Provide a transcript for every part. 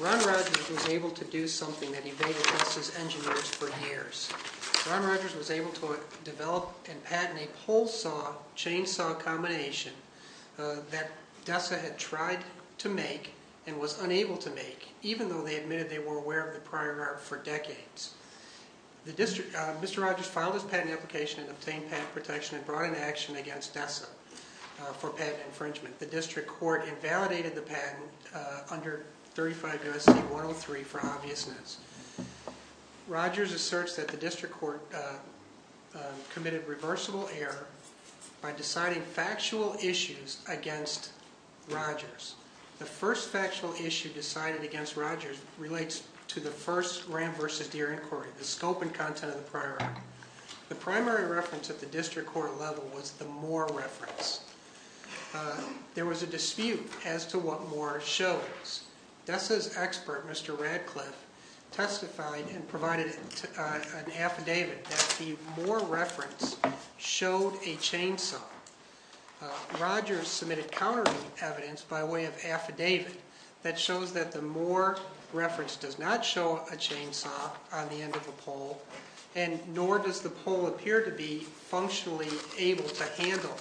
Ron Rogers was able to do something that evaded DESA's engineers for years. Ron Rogers was able to develop and patent a pole saw, chainsaw combination that DESA had tried to make and was unable to make, even though they admitted they were aware of the prior art for decades. Mr. Rogers filed his patent application and obtained patent protection and brought an action against DESA for patent infringement. The district court invalidated the patent under 35 U.S.C. 103 for obviousness. Rogers asserts that the district court committed reversible error by deciding factual issues against Rogers. The first factual issue decided against Rogers relates to the scope and content of the prior art. The primary reference at the district court level was the Moore reference. There was a dispute as to what Moore shows. DESA's expert, Mr. Radcliffe, testified and provided an affidavit that the Moore reference showed a chainsaw. Rogers submitted counter evidence by way of affidavit that shows that the Moore reference does not show a chainsaw on the end of the pole, and nor does the pole appear to be functionally able to handle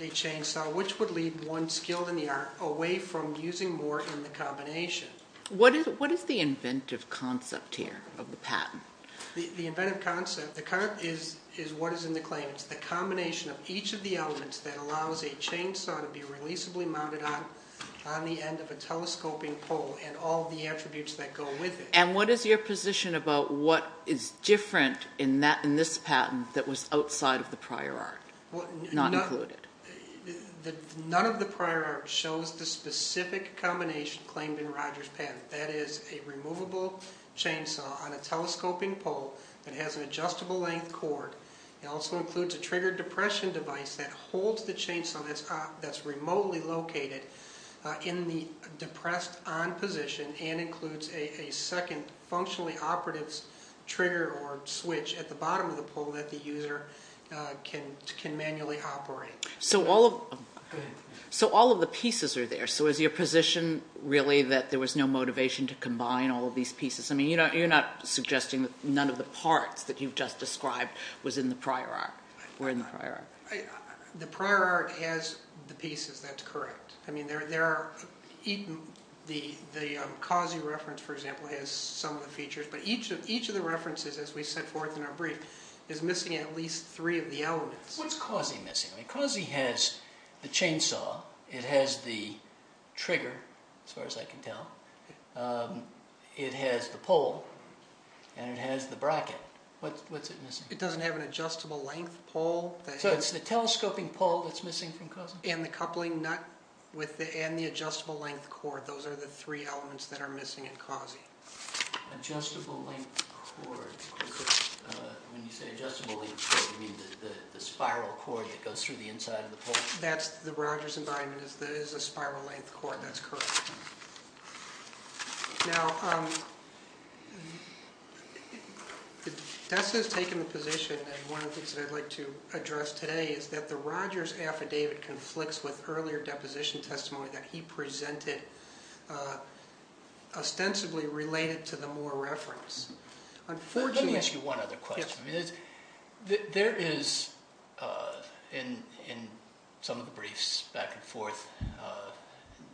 a chainsaw, which would leave one skilled in the art away from using Moore in the combination. What is the inventive concept here of the patent? The inventive concept is what is in the claim. It's the combination of each of the elements that allows a chainsaw to be releasably mounted on the end of a telescoping pole and all the attributes that go with it. And what is your position about what is different in this patent that was outside of the prior art, not included? None of the prior art shows the specific combination claimed in Rogers' patent. That is a removable chainsaw on a telescoping pole that has an adjustable length cord. It also includes a trigger depression device that holds the chainsaw that's remotely located in the depressed on position and includes a second functionally operative trigger or switch at the bottom of the pole that the user can manually operate. So all of the pieces are there. So is your position really that there was no motivation to combine all of these pieces? You're not suggesting that none of the parts that you've just described were in the prior art. The prior art has the pieces, that's correct. The Cossie reference, for example, has some of the features, but each of the references, as we set forth in our brief, is missing at least three of the elements. What's Cossie missing? Cossie has the chainsaw, it has the trigger, as far as I can tell, it has the pole, and it has the bracket. What's it missing? It doesn't have an adjustable length pole. So it's the telescoping pole that's missing from Cossie? And the coupling nut and the adjustable length cord. Those are the three elements that are missing in Cossie. Adjustable length cord. When you say adjustable length cord, do you mean the spiral cord that goes through the inside of the pole? That's the Rogers environment is a spiral length cord, that's correct. Now, Desta has taken the position, and one of the things that I'd like to address today is that the Rogers affidavit conflicts with earlier deposition testimony that he presented, ostensibly related to the Moore reference. Let me ask you one other question. There is, in some of the briefs, back and forth,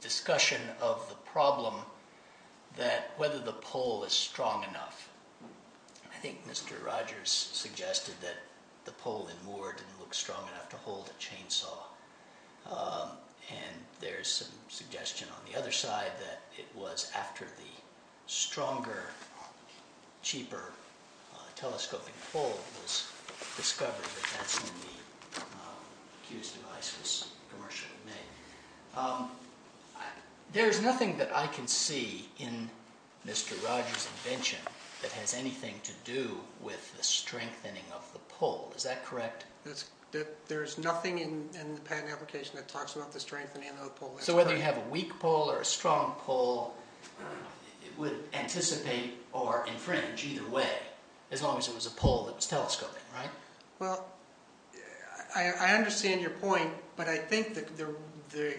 discussion of the problem that whether the pole is strong enough. I think Mr. Rogers suggested that the pole in Moore didn't look strong enough to hold a chainsaw. And there's some suggestion on the other side that it was after the stronger, cheaper, telescoping pole was discovered that that's when the accused device was commercially made. There's nothing that I can see in Mr. Rogers' invention that has anything to do with the strengthening of the pole. Is that correct? There's nothing in the patent application that talks about the strengthening of the pole. So whether you have a weak pole or a strong pole, it would anticipate or infringe either way, as long as it was a pole that was telescoping, right? Well, I understand your point, but I think the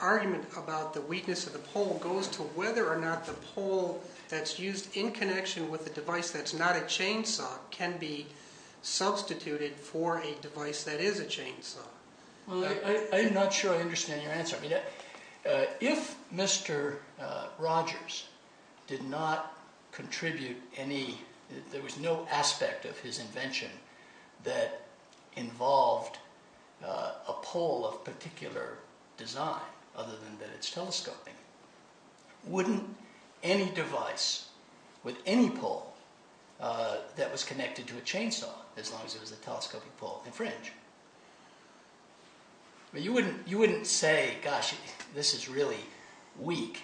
argument about the weakness of the pole goes to whether or not the pole that's used in connection with a device that's not a chainsaw can be substituted for a device that is a chainsaw. Well, I'm not sure I understand your answer. If Mr. Rogers did not contribute any, there was no aspect of his invention that involved a pole of particular design, other than that it's telescoping, wouldn't any device with any pole that was connected to a chainsaw, as long as it was a telescoping pole, infringe? You wouldn't say, gosh, this is really weak.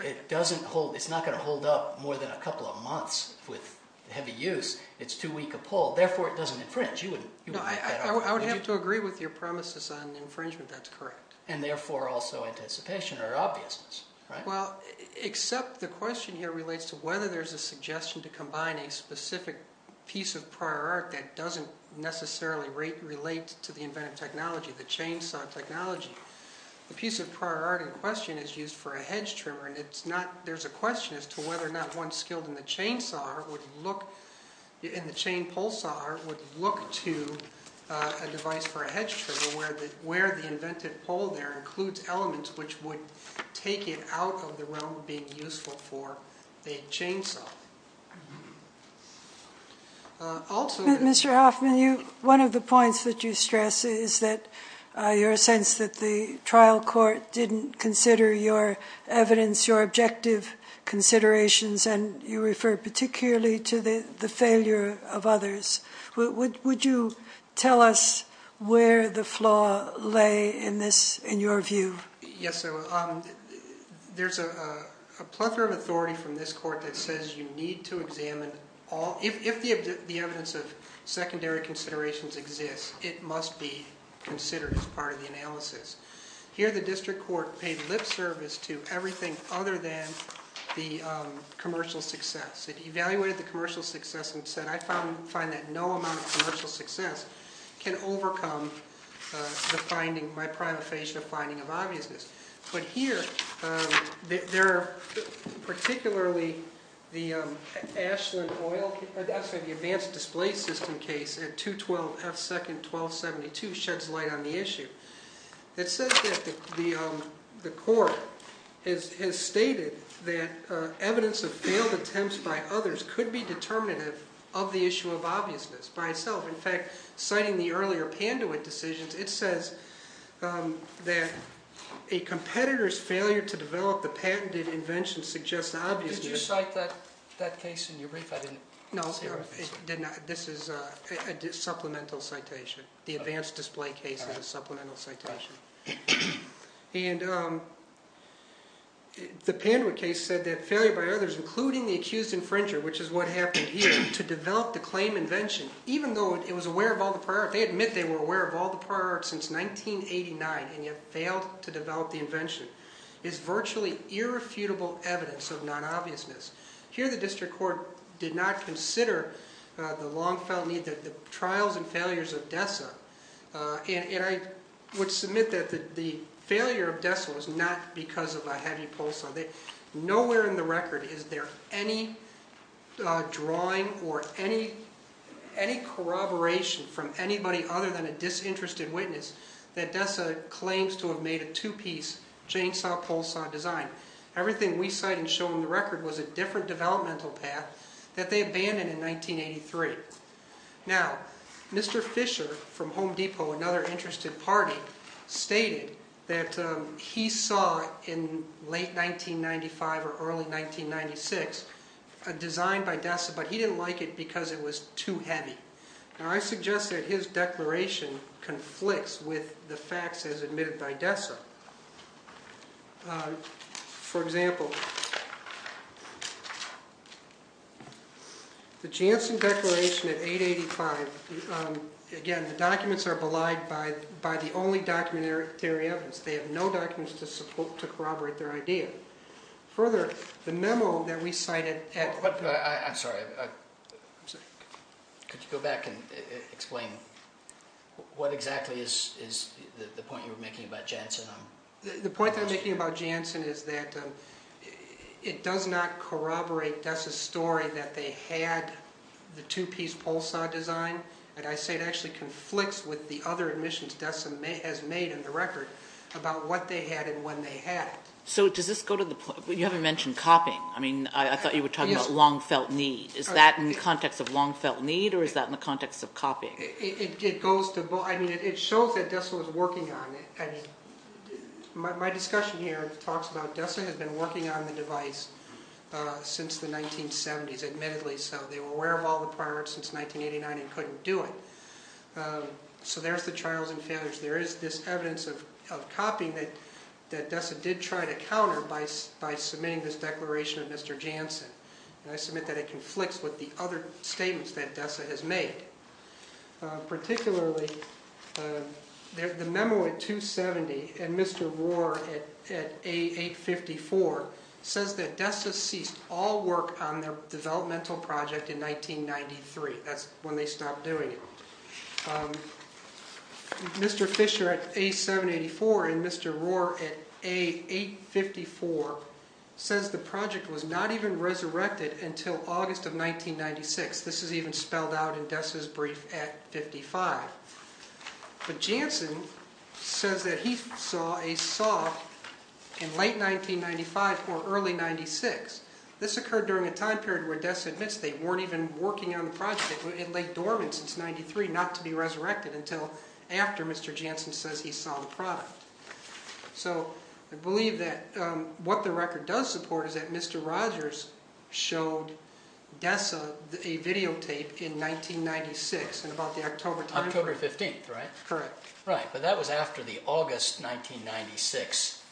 It's not going to hold up more than a couple of months with heavy use. It's too weak a pole, therefore it doesn't infringe. I would have to agree with your promises on infringement, that's correct. And therefore also anticipation or obviousness, right? Well, except the question here relates to whether there's a suggestion to combine a specific piece of prior art that doesn't necessarily relate to the inventive technology, the chainsaw technology. The piece of prior art in question is used for a hedge trimmer, and there's a question as to whether or not one skilled in the chain pole saw would look to a device for a hedge trimmer where the inventive pole there includes elements which would take it out of the realm of being useful for a chainsaw. Mr. Hoffman, one of the points that you stress is your sense that the trial court didn't consider your evidence, your objective considerations, and you refer particularly to the failure of others. Would you tell us where the flaw lay in your view? Yes, there's a plethora of authority from this court that says you need to examine all, if the evidence of secondary considerations exists, it must be considered as part of the analysis. Here the district court paid lip service to everything other than the commercial success. It evaluated the commercial success and said, I find that no amount of commercial success can overcome the finding, by prima facie, the finding of obviousness. But here, particularly the advanced display system case at 2-12-F-2-12-72 sheds light on the issue. It says that the court has stated that evidence of failed attempts by others could be determinative of the issue of obviousness by itself. In fact, citing the earlier Panduit decisions, it says that a competitor's failure to develop the patented invention suggests obviousness. Did you cite that case in your brief? No, this is a supplemental citation. The advanced display case is a supplemental citation. And the Panduit case said that failure by others, including the accused infringer, which is what happened here, to develop the claim invention, even though it was aware of all the prior art, they admit they were aware of all the prior art since 1989, and yet failed to develop the invention, is virtually irrefutable evidence of non-obviousness. Here, the district court did not consider the long-felt need, the trials and failures of DESA, and I would submit that the failure of DESA was not because of a heavy pole saw. Nowhere in the record is there any drawing or any corroboration from anybody other than a disinterested witness that DESA claims to have made a two-piece chainsaw pole saw design. Everything we cite and show in the record was a different developmental path that they abandoned in 1983. Now, Mr. Fisher from Home Depot, another interested party, stated that he saw in late 1995 or early 1996 a design by DESA, but he didn't like it because it was too heavy. Now, I suggest that his declaration conflicts with the facts as admitted by DESA. For example, the Janssen Declaration at 885, again, the documents are belied by the only documentary evidence. They have no documents to corroborate their idea. Further, the memo that we cited… I'm sorry. Could you go back and explain what exactly is the point you were making about Janssen? The point that I'm making about Janssen is that it does not corroborate DESA's story that they had the two-piece pole saw design, and I say it actually conflicts with the other admissions DESA has made in the record about what they had and when they had it. You haven't mentioned copying. I thought you were talking about long-felt need. Is that in the context of long-felt need, or is that in the context of copying? It goes to both. It shows that DESA was working on it. My discussion here talks about DESA has been working on the device since the 1970s, admittedly so. They were aware of all the priorities since 1989 and couldn't do it. So there's the trials and failures. There is this evidence of copying that DESA did try to counter by submitting this declaration of Mr. Janssen, and I submit that it conflicts with the other statements that DESA has made. Particularly, the memo at 270 and Mr. Rohr at 854 says that DESA ceased all work on their developmental project in 1993. That's when they stopped doing it. Mr. Fisher at A784 and Mr. Rohr at A854 says the project was not even resurrected until August of 1996. This is even spelled out in DESA's brief at 55. But Janssen says that he saw a saw in late 1995 or early 1996. This occurred during a time period where DESA admits they weren't even working on the project. It lay dormant since 1993, not to be resurrected until after Mr. Janssen says he saw the product. So I believe that what the record does support is that Mr. Rogers showed DESA a videotape in 1996 in about the October time period. October 15th, right? Correct. Right, but that was after the August 1996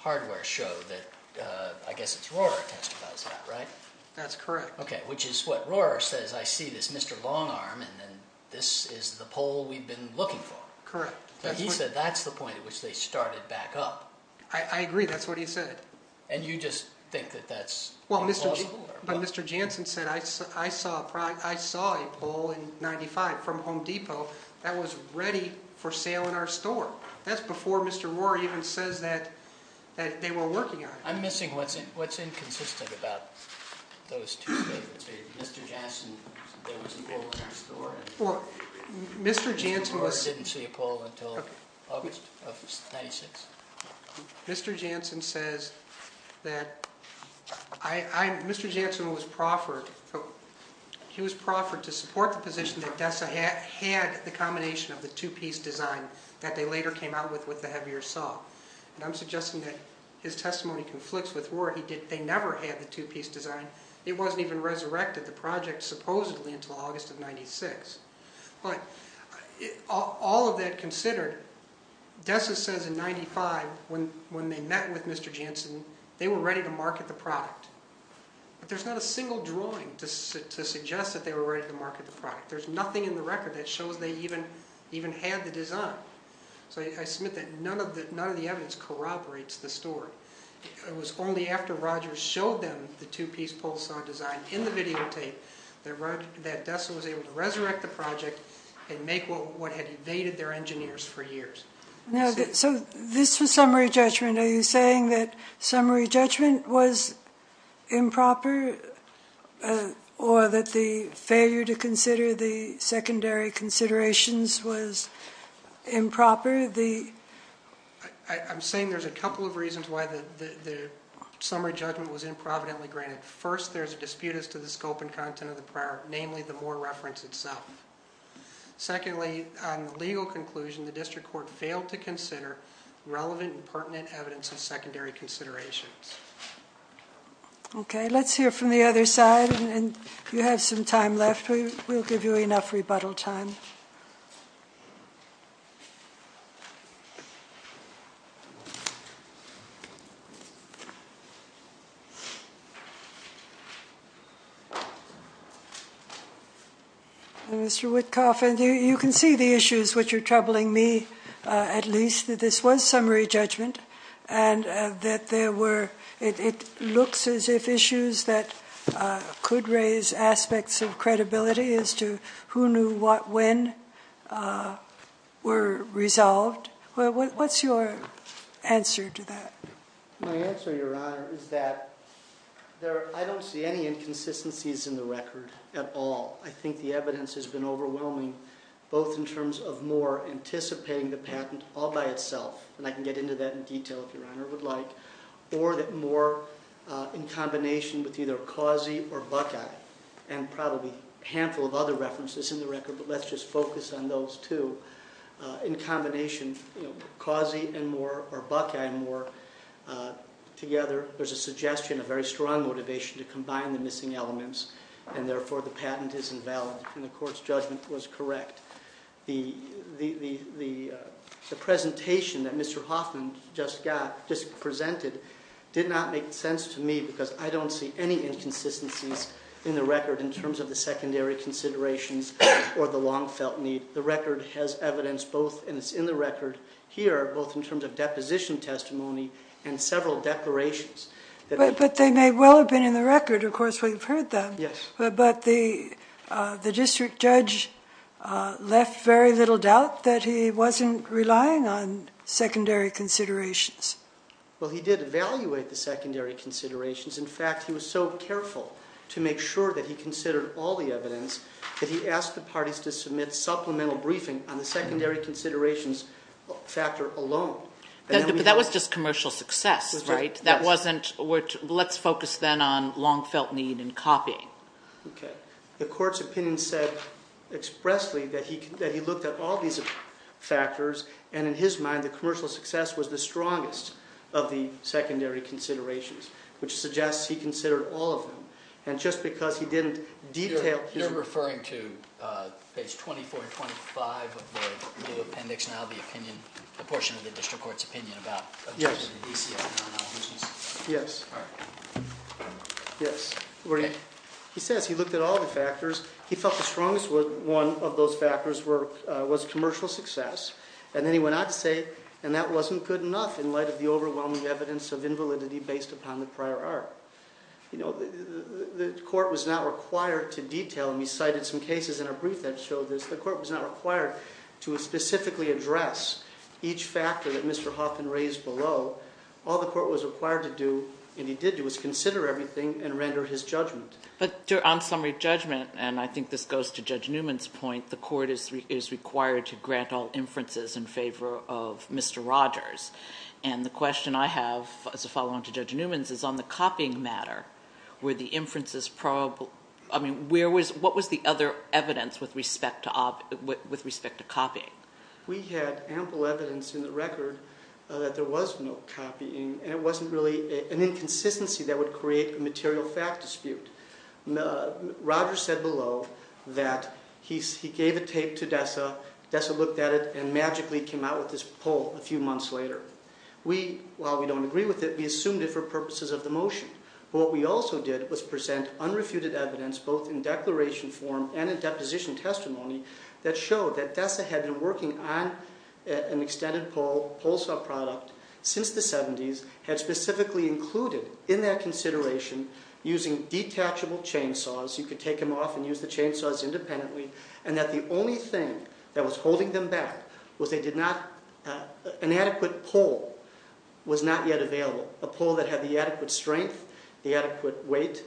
hardware show that I guess it's Rohr who testified, right? That's correct. Okay, which is what Rohr says, I see this Mr. Longarm and this is the pole we've been looking for. Correct. He said that's the point at which they started back up. I agree, that's what he said. And you just think that that's implausible? But Mr. Janssen said I saw a pole in 1995 from Home Depot that was ready for sale in our store. That's before Mr. Rohr even says that they were working on it. I'm missing what's inconsistent about those two things. Mr. Janssen said there was a pole in our store and Mr. Rohr didn't see a pole until August of 1996. Mr. Janssen says that Mr. Janssen was proffered to support the position that DESA had the combination of the two-piece design that they later came out with with the heavier saw. And I'm suggesting that his testimony conflicts with Rohr. They never had the two-piece design. It wasn't even resurrected, the project, supposedly until August of 1996. All of that considered, DESA says in 1995 when they met with Mr. Janssen, they were ready to market the product. But there's not a single drawing to suggest that they were ready to market the product. There's nothing in the record that shows they even had the design. So I submit that none of the evidence corroborates the story. It was only after Rogers showed them the two-piece pole saw design in the videotape that DESA was able to resurrect the project and make what had evaded their engineers for years. So this was summary judgment. Are you saying that summary judgment was improper or that the failure to consider the secondary considerations was improper? I'm saying there's a couple of reasons why the summary judgment was improvidently granted. First, there's a dispute as to the scope and content of the prior, namely the Mohr reference itself. Secondly, on the legal conclusion, the district court failed to consider relevant and pertinent evidence of secondary considerations. Okay, let's hear from the other side. And if you have some time left, we'll give you enough rebuttal time. Thank you. Mr. Witkoff, you can see the issues which are troubling me at least. My answer, Your Honor, is that I don't see any inconsistencies in the record at all. I think the evidence has been overwhelming both in terms of Mohr anticipating the patent all by itself, and I can get into that in detail if Your Honor would like, or that Mohr in combination with either Causey or Buckeye and probably a handful of other references in the record, but let's just focus on those two. In combination, Causey and Mohr or Buckeye and Mohr together, there's a suggestion of very strong motivation to combine the missing elements, and therefore the patent is invalid, and the court's judgment was correct. The presentation that Mr. Hoffman just got, just presented, did not make sense to me because I don't see any inconsistencies in the record in terms of the secondary considerations or the long-felt need. The record has evidence both, and it's in the record here, both in terms of deposition testimony and several declarations. But they may well have been in the record. Of course, we've heard them. Yes. But the district judge left very little doubt that he wasn't relying on secondary considerations. Well, he did evaluate the secondary considerations. In fact, he was so careful to make sure that he considered all the evidence that he asked the parties to submit supplemental briefing on the secondary considerations factor alone. But that was just commercial success, right? Yes. Let's focus then on long-felt need and copying. Okay. The court's opinion said expressly that he looked at all these factors, and in his mind, the commercial success was the strongest of the secondary considerations, which suggests he considered all of them. And just because he didn't detail- You're referring to page 24 and 25 of the new appendix, now the opinion, the portion of the district court's opinion about- Yes. Yes. All right. Yes. He says he looked at all the factors. He felt the strongest one of those factors was commercial success. And then he went on to say, and that wasn't good enough in light of the overwhelming evidence of invalidity based upon the prior art. You know, the court was not required to detail, and we cited some cases in our brief that showed this. The court was not required to specifically address each factor that Mr. Hoffman raised below. All the court was required to do, and he did do, was consider everything and render his judgment. But on summary judgment, and I think this goes to Judge Newman's point, the court is required to grant all inferences in favor of Mr. Rogers. And the question I have as a follow-on to Judge Newman's is on the copying matter. Were the inferences probable? I mean, what was the other evidence with respect to copying? We had ample evidence in the record that there was no copying, and it wasn't really an inconsistency that would create a material fact dispute. Rogers said below that he gave a tape to Dessa. Dessa looked at it and magically came out with this poll a few months later. We, while we don't agree with it, we assumed it for purposes of the motion. But what we also did was present unrefuted evidence, both in declaration form and in deposition testimony, that showed that Dessa had been working on an extended poll, poll saw product, since the 70s, had specifically included in that consideration using detachable chainsaws. You could take them off and use the chainsaws independently, and that the only thing that was holding them back was they did not, an adequate poll was not yet available. A poll that had the adequate strength, the adequate weight,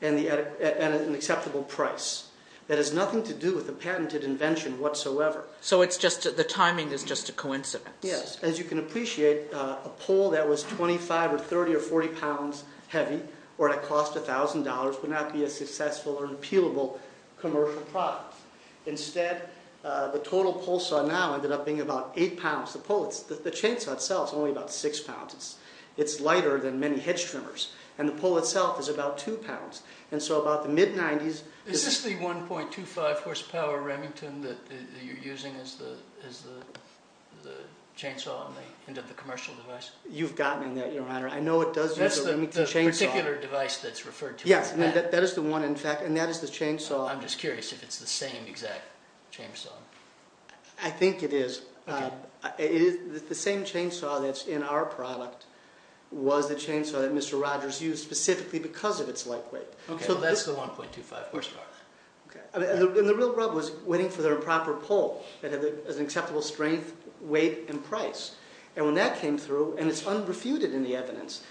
and an acceptable price. That has nothing to do with the patented invention whatsoever. So it's just, the timing is just a coincidence. Yes. As you can appreciate, a poll that was 25 or 30 or 40 pounds heavy, or that cost $1,000, would not be a successful or an appealable commercial product. Instead, the total poll saw now ended up being about 8 pounds. The poll, the chainsaw itself is only about 6 pounds. It's lighter than many hedge trimmers. And the poll itself is about 2 pounds. And so about the mid-90s... Is this the 1.25 horsepower Remington that you're using as the chainsaw into the commercial device? You've gotten in there, your honor. I know it does use a Remington chainsaw. That's the particular device that's referred to as that. Yes, that is the one, in fact, and that is the chainsaw. I'm just curious if it's the same exact chainsaw. I think it is. The same chainsaw that's in our product was the chainsaw that Mr. Rogers used, specifically because of its light weight. Okay, so that's the 1.25 horsepower. And the real rub was waiting for their proper poll. It has an acceptable strength, weight, and price. And when that came through, and it's unrefuted in the evidence,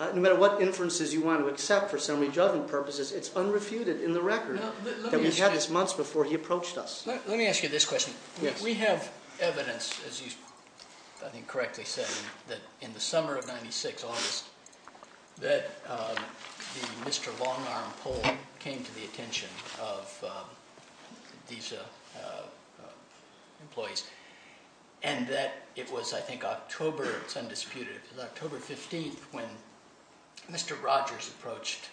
no matter what inferences you want to accept for summary judgment purposes, it's unrefuted in the record that we had this months before he approached us. Let me ask you this question. We have evidence, as you, I think, correctly said, that in the summer of 1996, August, that the Mr. Longarm poll came to the attention of these employees, and that it was, I think, October, it's undisputed, it was October 15th when Mr. Rogers approached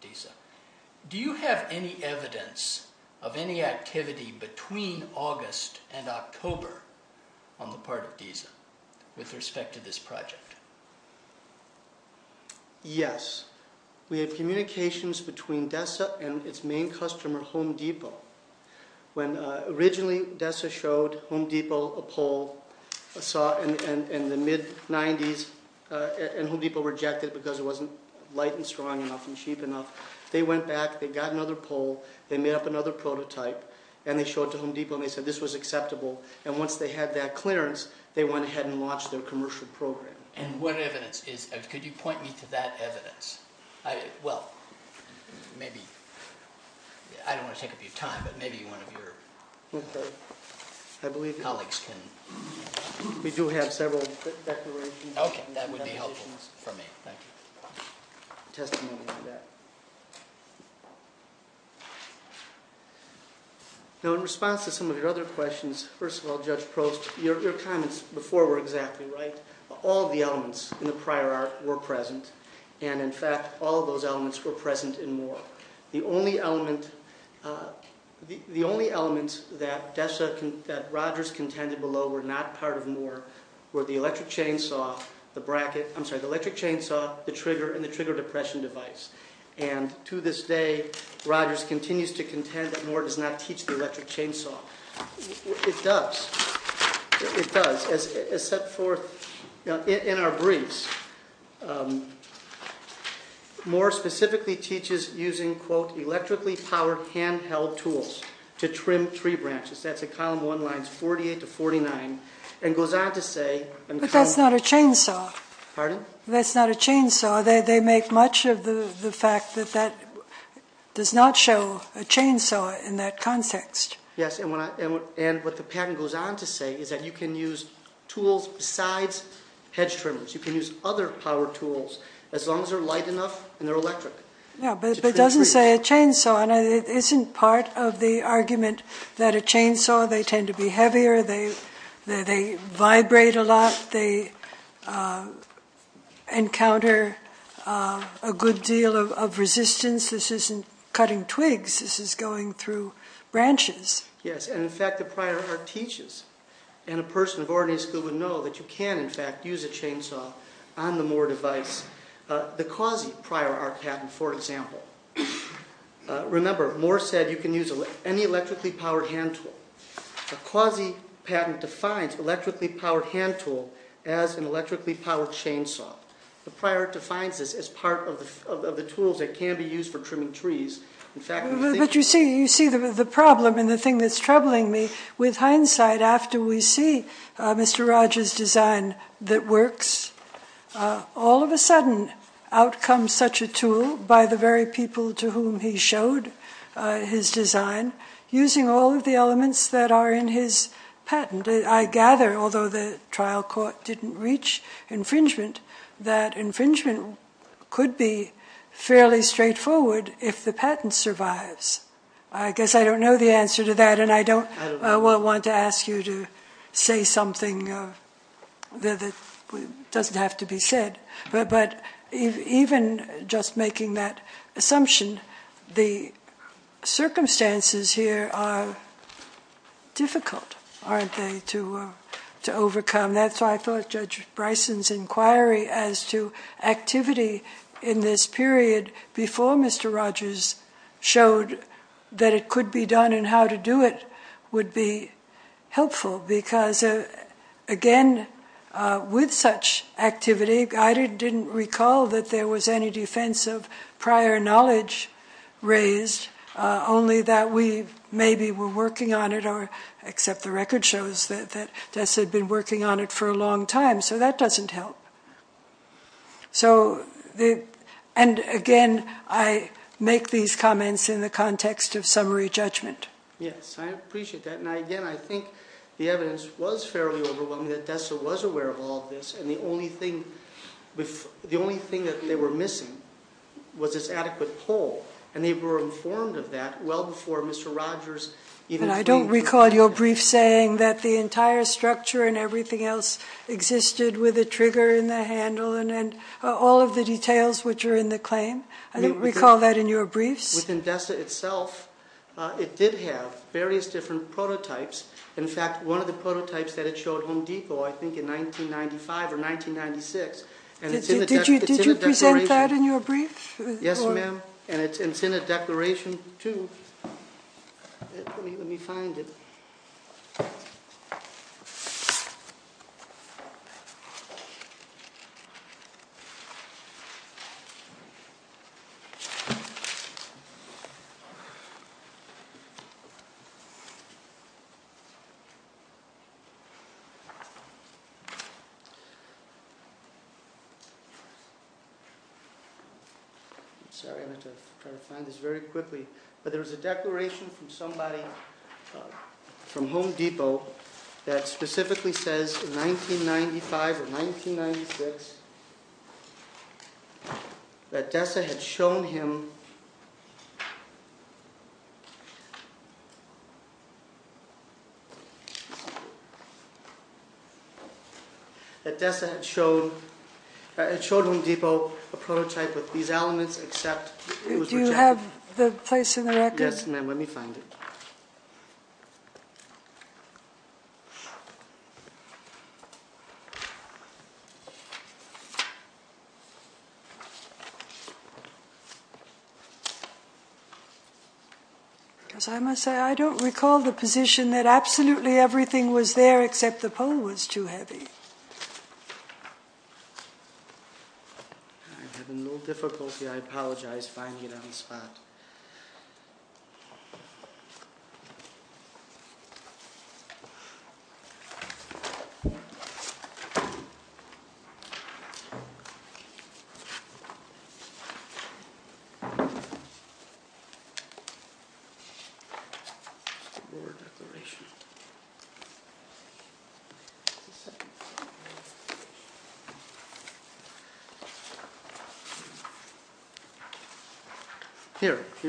DESA. Do you have any evidence of any activity between August and October on the part of DESA with respect to this project? Yes. We have communications between DESA and its main customer, Home Depot. When originally DESA showed Home Depot a poll in the mid-'90s, and Home Depot rejected it because it wasn't light and strong enough and cheap enough, they went back, they got another poll, they made up another prototype, and they showed it to Home Depot, and they said this was acceptable. And once they had that clearance, they went ahead and launched their commercial program. And what evidence is, could you point me to that evidence? Well, maybe, I don't want to take up your time, but maybe one of your colleagues can. We do have several declarations. Okay, that would be helpful for me. Thank you. Testimony on that. Now, in response to some of your other questions, first of all, Judge Prost, your comments before were exactly right. All of the elements in the prior art were present, and in fact, all of those elements were present in Moore. The only element that Rogers contended below were not part of Moore were the electric chainsaw, the trigger, and the trigger-depression device. And to this day, Rogers continues to contend that Moore does not teach the electric chainsaw. It does. It does. As set forth in our briefs, Moore specifically teaches using, quote, electrically-powered handheld tools to trim tree branches. That's in Column 1, Lines 48 to 49, and goes on to say, But that's not a chainsaw. Pardon? That's not a chainsaw. They make much of the fact that that does not show a chainsaw in that context. Yes, and what the patent goes on to say is that you can use tools besides hedge trimmers. You can use other power tools, as long as they're light enough and they're electric. Yeah, but it doesn't say a chainsaw, and it isn't part of the argument that a chainsaw, they tend to be heavier, they vibrate a lot, they encounter a good deal of resistance. Since this isn't cutting twigs, this is going through branches. Yes, and in fact, the prior art teaches, and a person of ordinary skill would know, that you can, in fact, use a chainsaw on the Moore device. The quasi-prior art patent, for example, remember, Moore said you can use any electrically-powered hand tool. The quasi-patent defines electrically-powered hand tool as an electrically-powered chainsaw. The prior art defines this as part of the tools that can be used for trimming trees. But you see the problem and the thing that's troubling me. With hindsight, after we see Mr. Rogers' design that works, all of a sudden out comes such a tool by the very people to whom he showed his design, using all of the elements that are in his patent. I gather, although the trial court didn't reach infringement, that infringement could be fairly straightforward if the patent survives. I guess I don't know the answer to that, and I don't want to ask you to say something that doesn't have to be said. But even just making that assumption, the circumstances here are difficult, aren't they, to overcome. That's why I thought Judge Bryson's inquiry as to activity in this period before Mr. Rogers showed that it could be done and how to do it would be helpful. Because, again, with such activity, I didn't recall that there was any defense of prior knowledge raised, only that we maybe were working on it, except the record shows that Tess had been working on it for a long time, so that doesn't help. Again, I make these comments in the context of summary judgment. Yes, I appreciate that. Now, again, I think the evidence was fairly overwhelming that Tess was aware of all of this, and the only thing that they were missing was this adequate poll, and they were informed of that well before Mr. Rogers even- And I don't recall your brief saying that the entire structure and everything else existed with a trigger in the handle and all of the details which are in the claim. I don't recall that in your briefs. It did have various different prototypes. In fact, one of the prototypes that it showed, Home Deco, I think in 1995 or 1996- Did you present that in your brief? Yes, ma'am, and it's in a declaration, too. Let me find it. I'm sorry, I have to try to find this very quickly, but there was a declaration from somebody from Home Depot that specifically says, in 1995 or 1996, that Dessa had shown him a prototype with these elements except- Do you have the place in the record? Yes, ma'am. Let me find it. As I must say, I don't recall the position that absolutely everything was there except the poll was too heavy. I'm having a little difficulty, I apologize, finding it on the spot. Here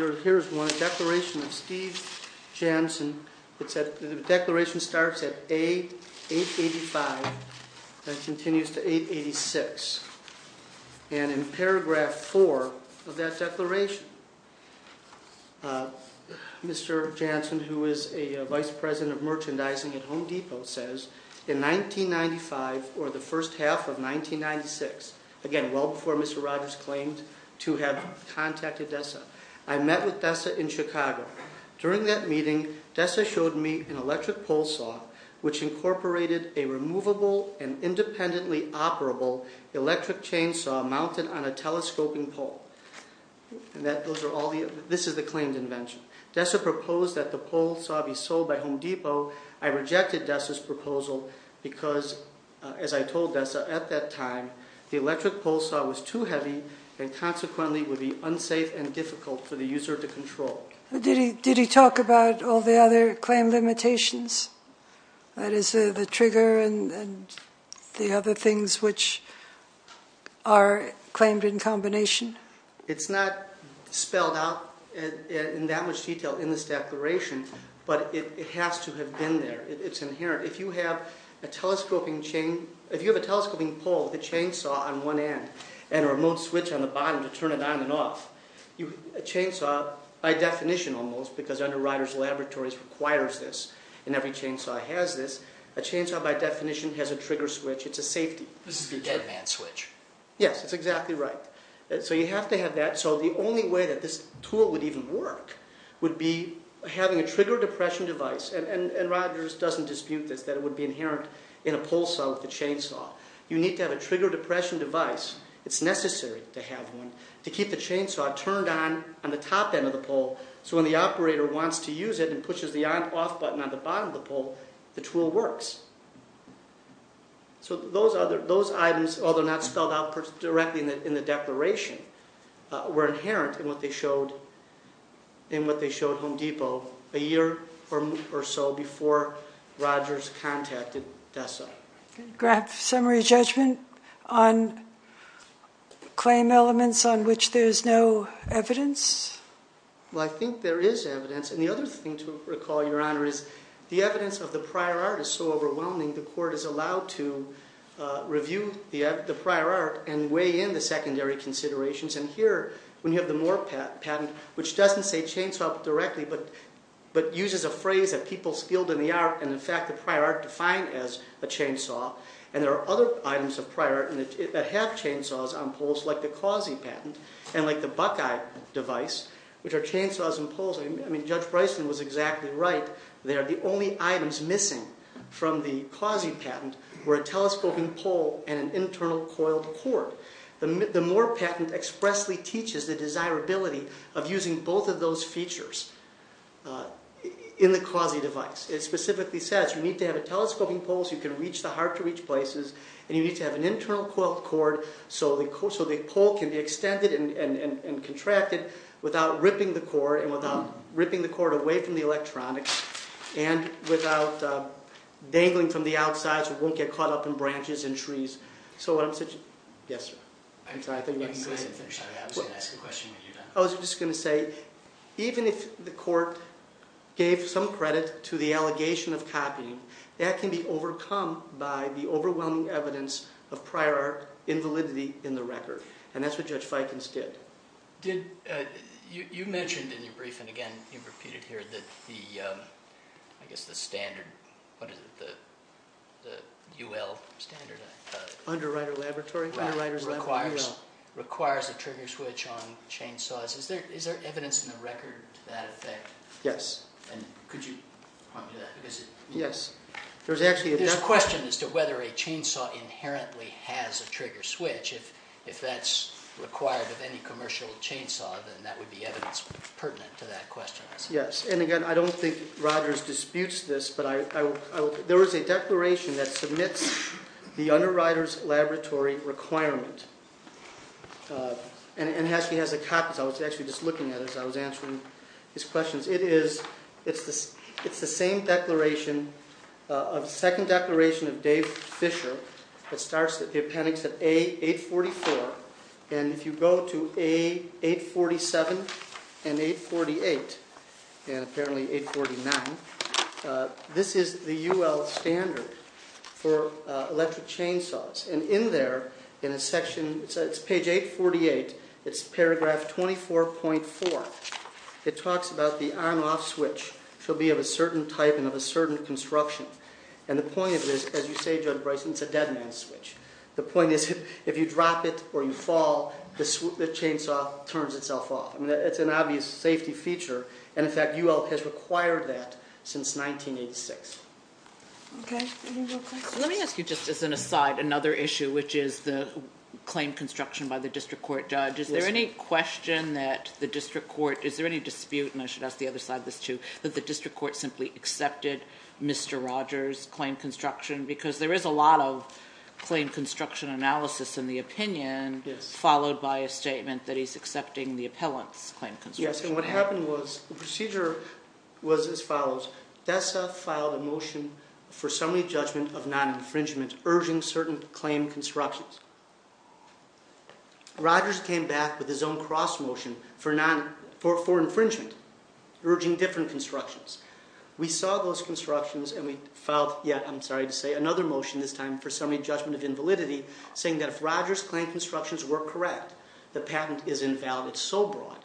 it is. It's a declaration of Steve Janssen. The declaration starts at A885 and continues to A886. In paragraph 4 of that declaration, Mr. Janssen, who is a vice president of merchandising at Home Depot, says, In 1995, or the first half of 1996, again, well before Mr. Rogers claimed to have contacted Dessa, I met with Dessa in Chicago. During that meeting, Dessa showed me an electric pole saw which incorporated a removable and independently operable electric chainsaw mounted on a telescoping pole. This is the claimed invention. Dessa proposed that the pole saw be sold by Home Depot. I rejected Dessa's proposal because, as I told Dessa at that time, the electric pole saw was too heavy and consequently would be unsafe and difficult for the user to control. Did he talk about all the other claim limitations? That is, the trigger and the other things which are claimed in combination? It's not spelled out in that much detail in this declaration, but it has to have been there. It's inherent. If you have a telescoping pole with a chainsaw on one end and a remote switch on the bottom to turn it on and off, a chainsaw, by definition almost, because Underwriters Laboratories requires this and every chainsaw has this, a chainsaw, by definition, has a trigger switch. It's a safety feature. This is a dead man's switch. Yes, that's exactly right. So you have to have that. So the only way that this tool would even work would be having a trigger depression device, and Rogers doesn't dispute this, that it would be inherent in a pole saw with a chainsaw. You need to have a trigger depression device, it's necessary to have one, to keep the chainsaw turned on on the top end of the pole so when the operator wants to use it and pushes the on-off button on the bottom of the pole, the tool works. So those items, although not spelled out directly in the declaration, were inherent in what they showed Home Depot a year or so before Rogers contacted DESA. Graph summary judgment on claim elements on which there's no evidence? Well, I think there is evidence, and the other thing to recall, Your Honor, is the evidence of the prior art is so overwhelming the court is allowed to review the prior art and weigh in the secondary considerations, and here, when you have the Moore patent, which doesn't say chainsaw directly but uses a phrase that people skilled in the art, and in fact the prior art defined as a chainsaw, and there are other items of prior art that have chainsaws on poles like the Causey patent and like the Buckeye device, which are chainsaws and poles. I mean, Judge Bryson was exactly right there. The only items missing from the Causey patent were a telescoping pole and an internal coiled cord. The Moore patent expressly teaches the desirability of using both of those features in the Causey device. It specifically says you need to have a telescoping pole so you can reach the hard-to-reach places, and you need to have an internal coiled cord so the pole can be extended and contracted without ripping the cord and without ripping the cord away from the electronics and without dangling from the outside so it won't get caught up in branches and trees. So what I'm suggesting—yes, sir. I'm sorry, I think you want to say something. I was just going to say, even if the court gave some credit to the allegation of copying, that can be overcome by the overwhelming evidence of prior art invalidity in the record, and that's what Judge Fikens did. You mentioned in your brief, and again you've repeated here, that the, I guess the standard, what is it, the UL standard? Underwriter Laboratory? Right, requires a trigger switch on chainsaws. Is there evidence in the record to that effect? Yes. Could you point me to that? Yes. There's a question as to whether a chainsaw inherently has a trigger switch. If that's required of any commercial chainsaw, then that would be evidence pertinent to that question. Yes, and again, I don't think Rogers disputes this, but there is a declaration that submits the underwriter's laboratory requirement. And it actually has the copies. I was actually just looking at it as I was answering his questions. It is, it's the same declaration, a second declaration of Dave Fisher that starts the appendix at A844. And if you go to A847 and A848, and apparently A849, this is the UL standard for electric chainsaws. And in there, in a section, it's page 848, it's paragraph 24.4. It talks about the on-off switch should be of a certain type and of a certain construction. And the point of this, as you say, Judge Bryson, it's a dead man's switch. The point is, if you drop it or you fall, the chainsaw turns itself off. I mean, it's an obvious safety feature. And in fact, UL has required that since 1986. Okay. Any more questions? Let me ask you, just as an aside, another issue, which is the claim construction by the district court judge. Is there any question that the district court, is there any dispute, and I should ask the other side of this too, that the district court simply accepted Mr. Rogers' claim construction? Because there is a lot of claim construction analysis in the opinion, followed by a statement that he's accepting the appellant's claim construction. Yes, and what happened was, the procedure was as follows. DESA filed a motion for summary judgment of non-infringement, urging certain claim constructions. Rogers came back with his own cross motion for infringement, urging different constructions. We saw those constructions, and we filed yet, I'm sorry to say, another motion, this time for summary judgment of invalidity, saying that if Rogers' claim constructions were correct, the patent is invalid. It's so broad,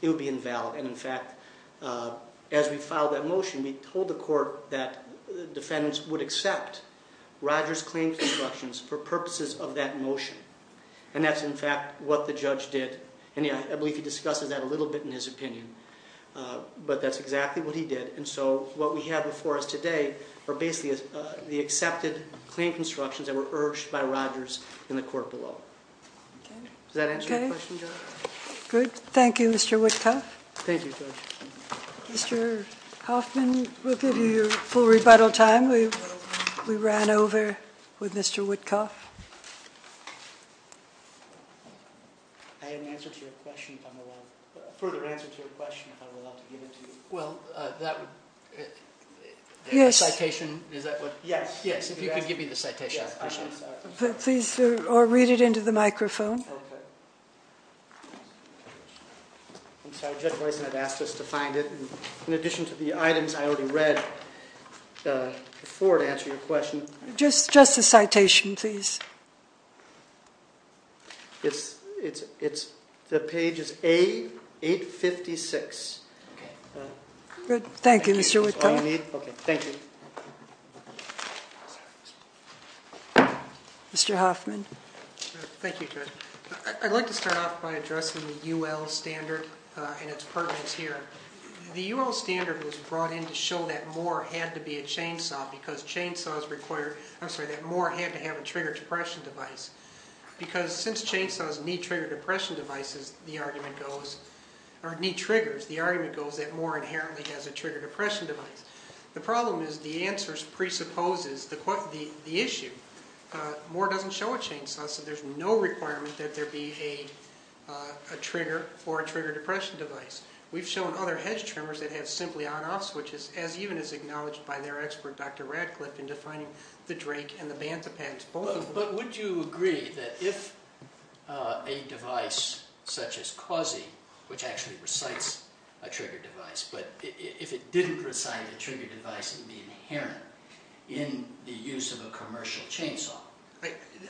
it would be invalid. And in fact, as we filed that motion, we told the court that defendants would accept Rogers' claim constructions for purposes of that motion. And that's, in fact, what the judge did. And I believe he discusses that a little bit in his opinion. But that's exactly what he did. And so, what we have before us today are basically the accepted claim constructions that were urged by Rogers in the court below. Does that answer your question, Judge? Good. Thank you, Mr. Whitcuff. Thank you, Judge. Mr. Hoffman, we'll give you your full rebuttal time. We ran over with Mr. Whitcuff. I have an answer to your question, if I'm allowed. A further answer to your question, if I'm allowed to give it to you. Well, that would, the citation, is that what? Yes. Yes, if you could give me the citation. Yes, I'm sorry. Please, or read it into the microphone. Okay. I'm sorry, Judge Boyson had asked us to find it. In addition to the items I already read before to answer your question. Just the citation, please. It's, the page is A856. Good. Thank you, Mr. Whitcuff. That's all you need? Okay. Thank you. Mr. Hoffman. Thank you, Judge. I'd like to start off by addressing the UL standard and its permits here. The UL standard was brought in to show that Moore had to be a chainsaw because chainsaws require, I'm sorry, that Moore had to have a trigger depression device. Because since chainsaws need trigger depression devices, the argument goes, or need triggers, the argument goes that Moore inherently has a trigger depression device. The problem is the answer presupposes the issue. Moore doesn't show a chainsaw, so there's no requirement that there be a trigger for a trigger depression device. We've shown other hedge trimmers that have simply on-offs, which is, as even is acknowledged by their expert, Dr. Radcliffe, in defining the drake and the bantha pads, both of them. But would you agree that if a device such as CAUSE, which actually recites a trigger device, but if it didn't recite a trigger device, it would be inherent in the use of a commercial chainsaw?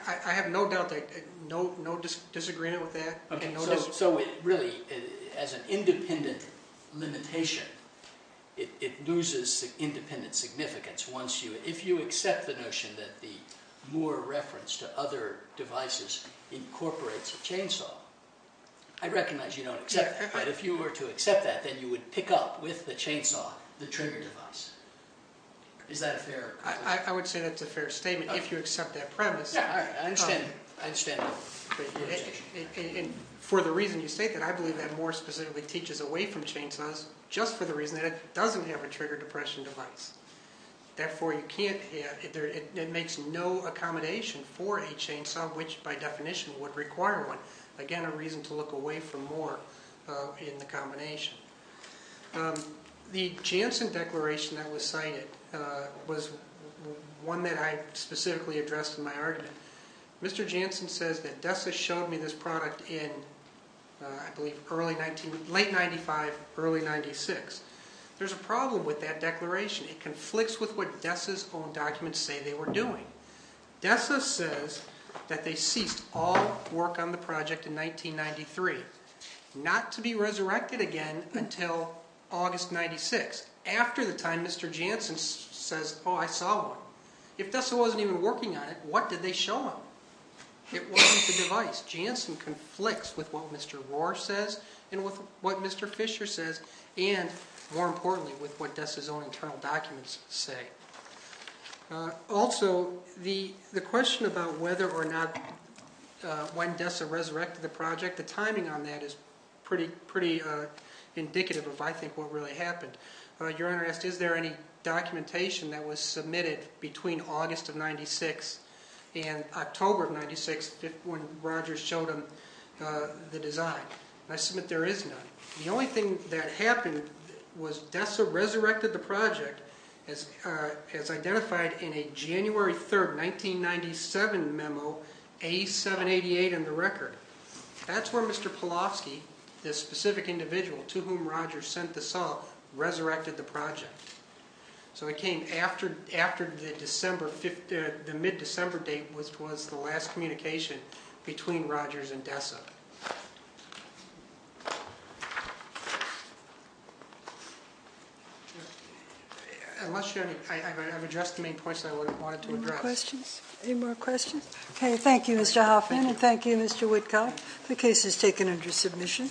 I have no doubt, no disagreement with that. So really, as an independent limitation, it loses independent significance. If you accept the notion that the Moore reference to other devices incorporates a chainsaw, I recognize you don't accept that. But if you were to accept that, then you would pick up, with the chainsaw, the trigger device. Is that a fair? I would say that's a fair statement, if you accept that premise. Yeah, I understand that. For the reason you state that, I believe that Moore specifically teaches away from chainsaws just for the reason that it doesn't have a trigger depression device. Therefore, it makes no accommodation for a chainsaw, which, by definition, would require one. So, again, a reason to look away from Moore in the combination. The Janssen declaration that was cited was one that I specifically addressed in my argument. Mr. Janssen says that DESA showed me this product in, I believe, late 1995, early 1996. There's a problem with that declaration. It conflicts with what DESA's own documents say they were doing. DESA says that they ceased all work on the project in 1993, not to be resurrected again until August 1996, after the time Mr. Janssen says, oh, I saw one. If DESA wasn't even working on it, what did they show him? It wasn't the device. Janssen conflicts with what Mr. Rohr says and with what Mr. Fisher says, and, more importantly, with what DESA's own internal documents say. Also, the question about whether or not when DESA resurrected the project, the timing on that is pretty indicative of, I think, what really happened. Your Honor asked, is there any documentation that was submitted between August of 1996 and October of 1996 when Rogers showed him the design? I submit there is none. The only thing that happened was DESA resurrected the project, as identified in a January 3, 1997 memo, A788 in the record. That's where Mr. Polofsky, this specific individual to whom Rogers sent the saw, resurrected the project. So it came after the mid-December date was the last communication between Rogers and DESA. I've addressed the main points I wanted to address. Any more questions? Okay, thank you, Mr. Hoffman, and thank you, Mr. Witkow. The case is taken under submission.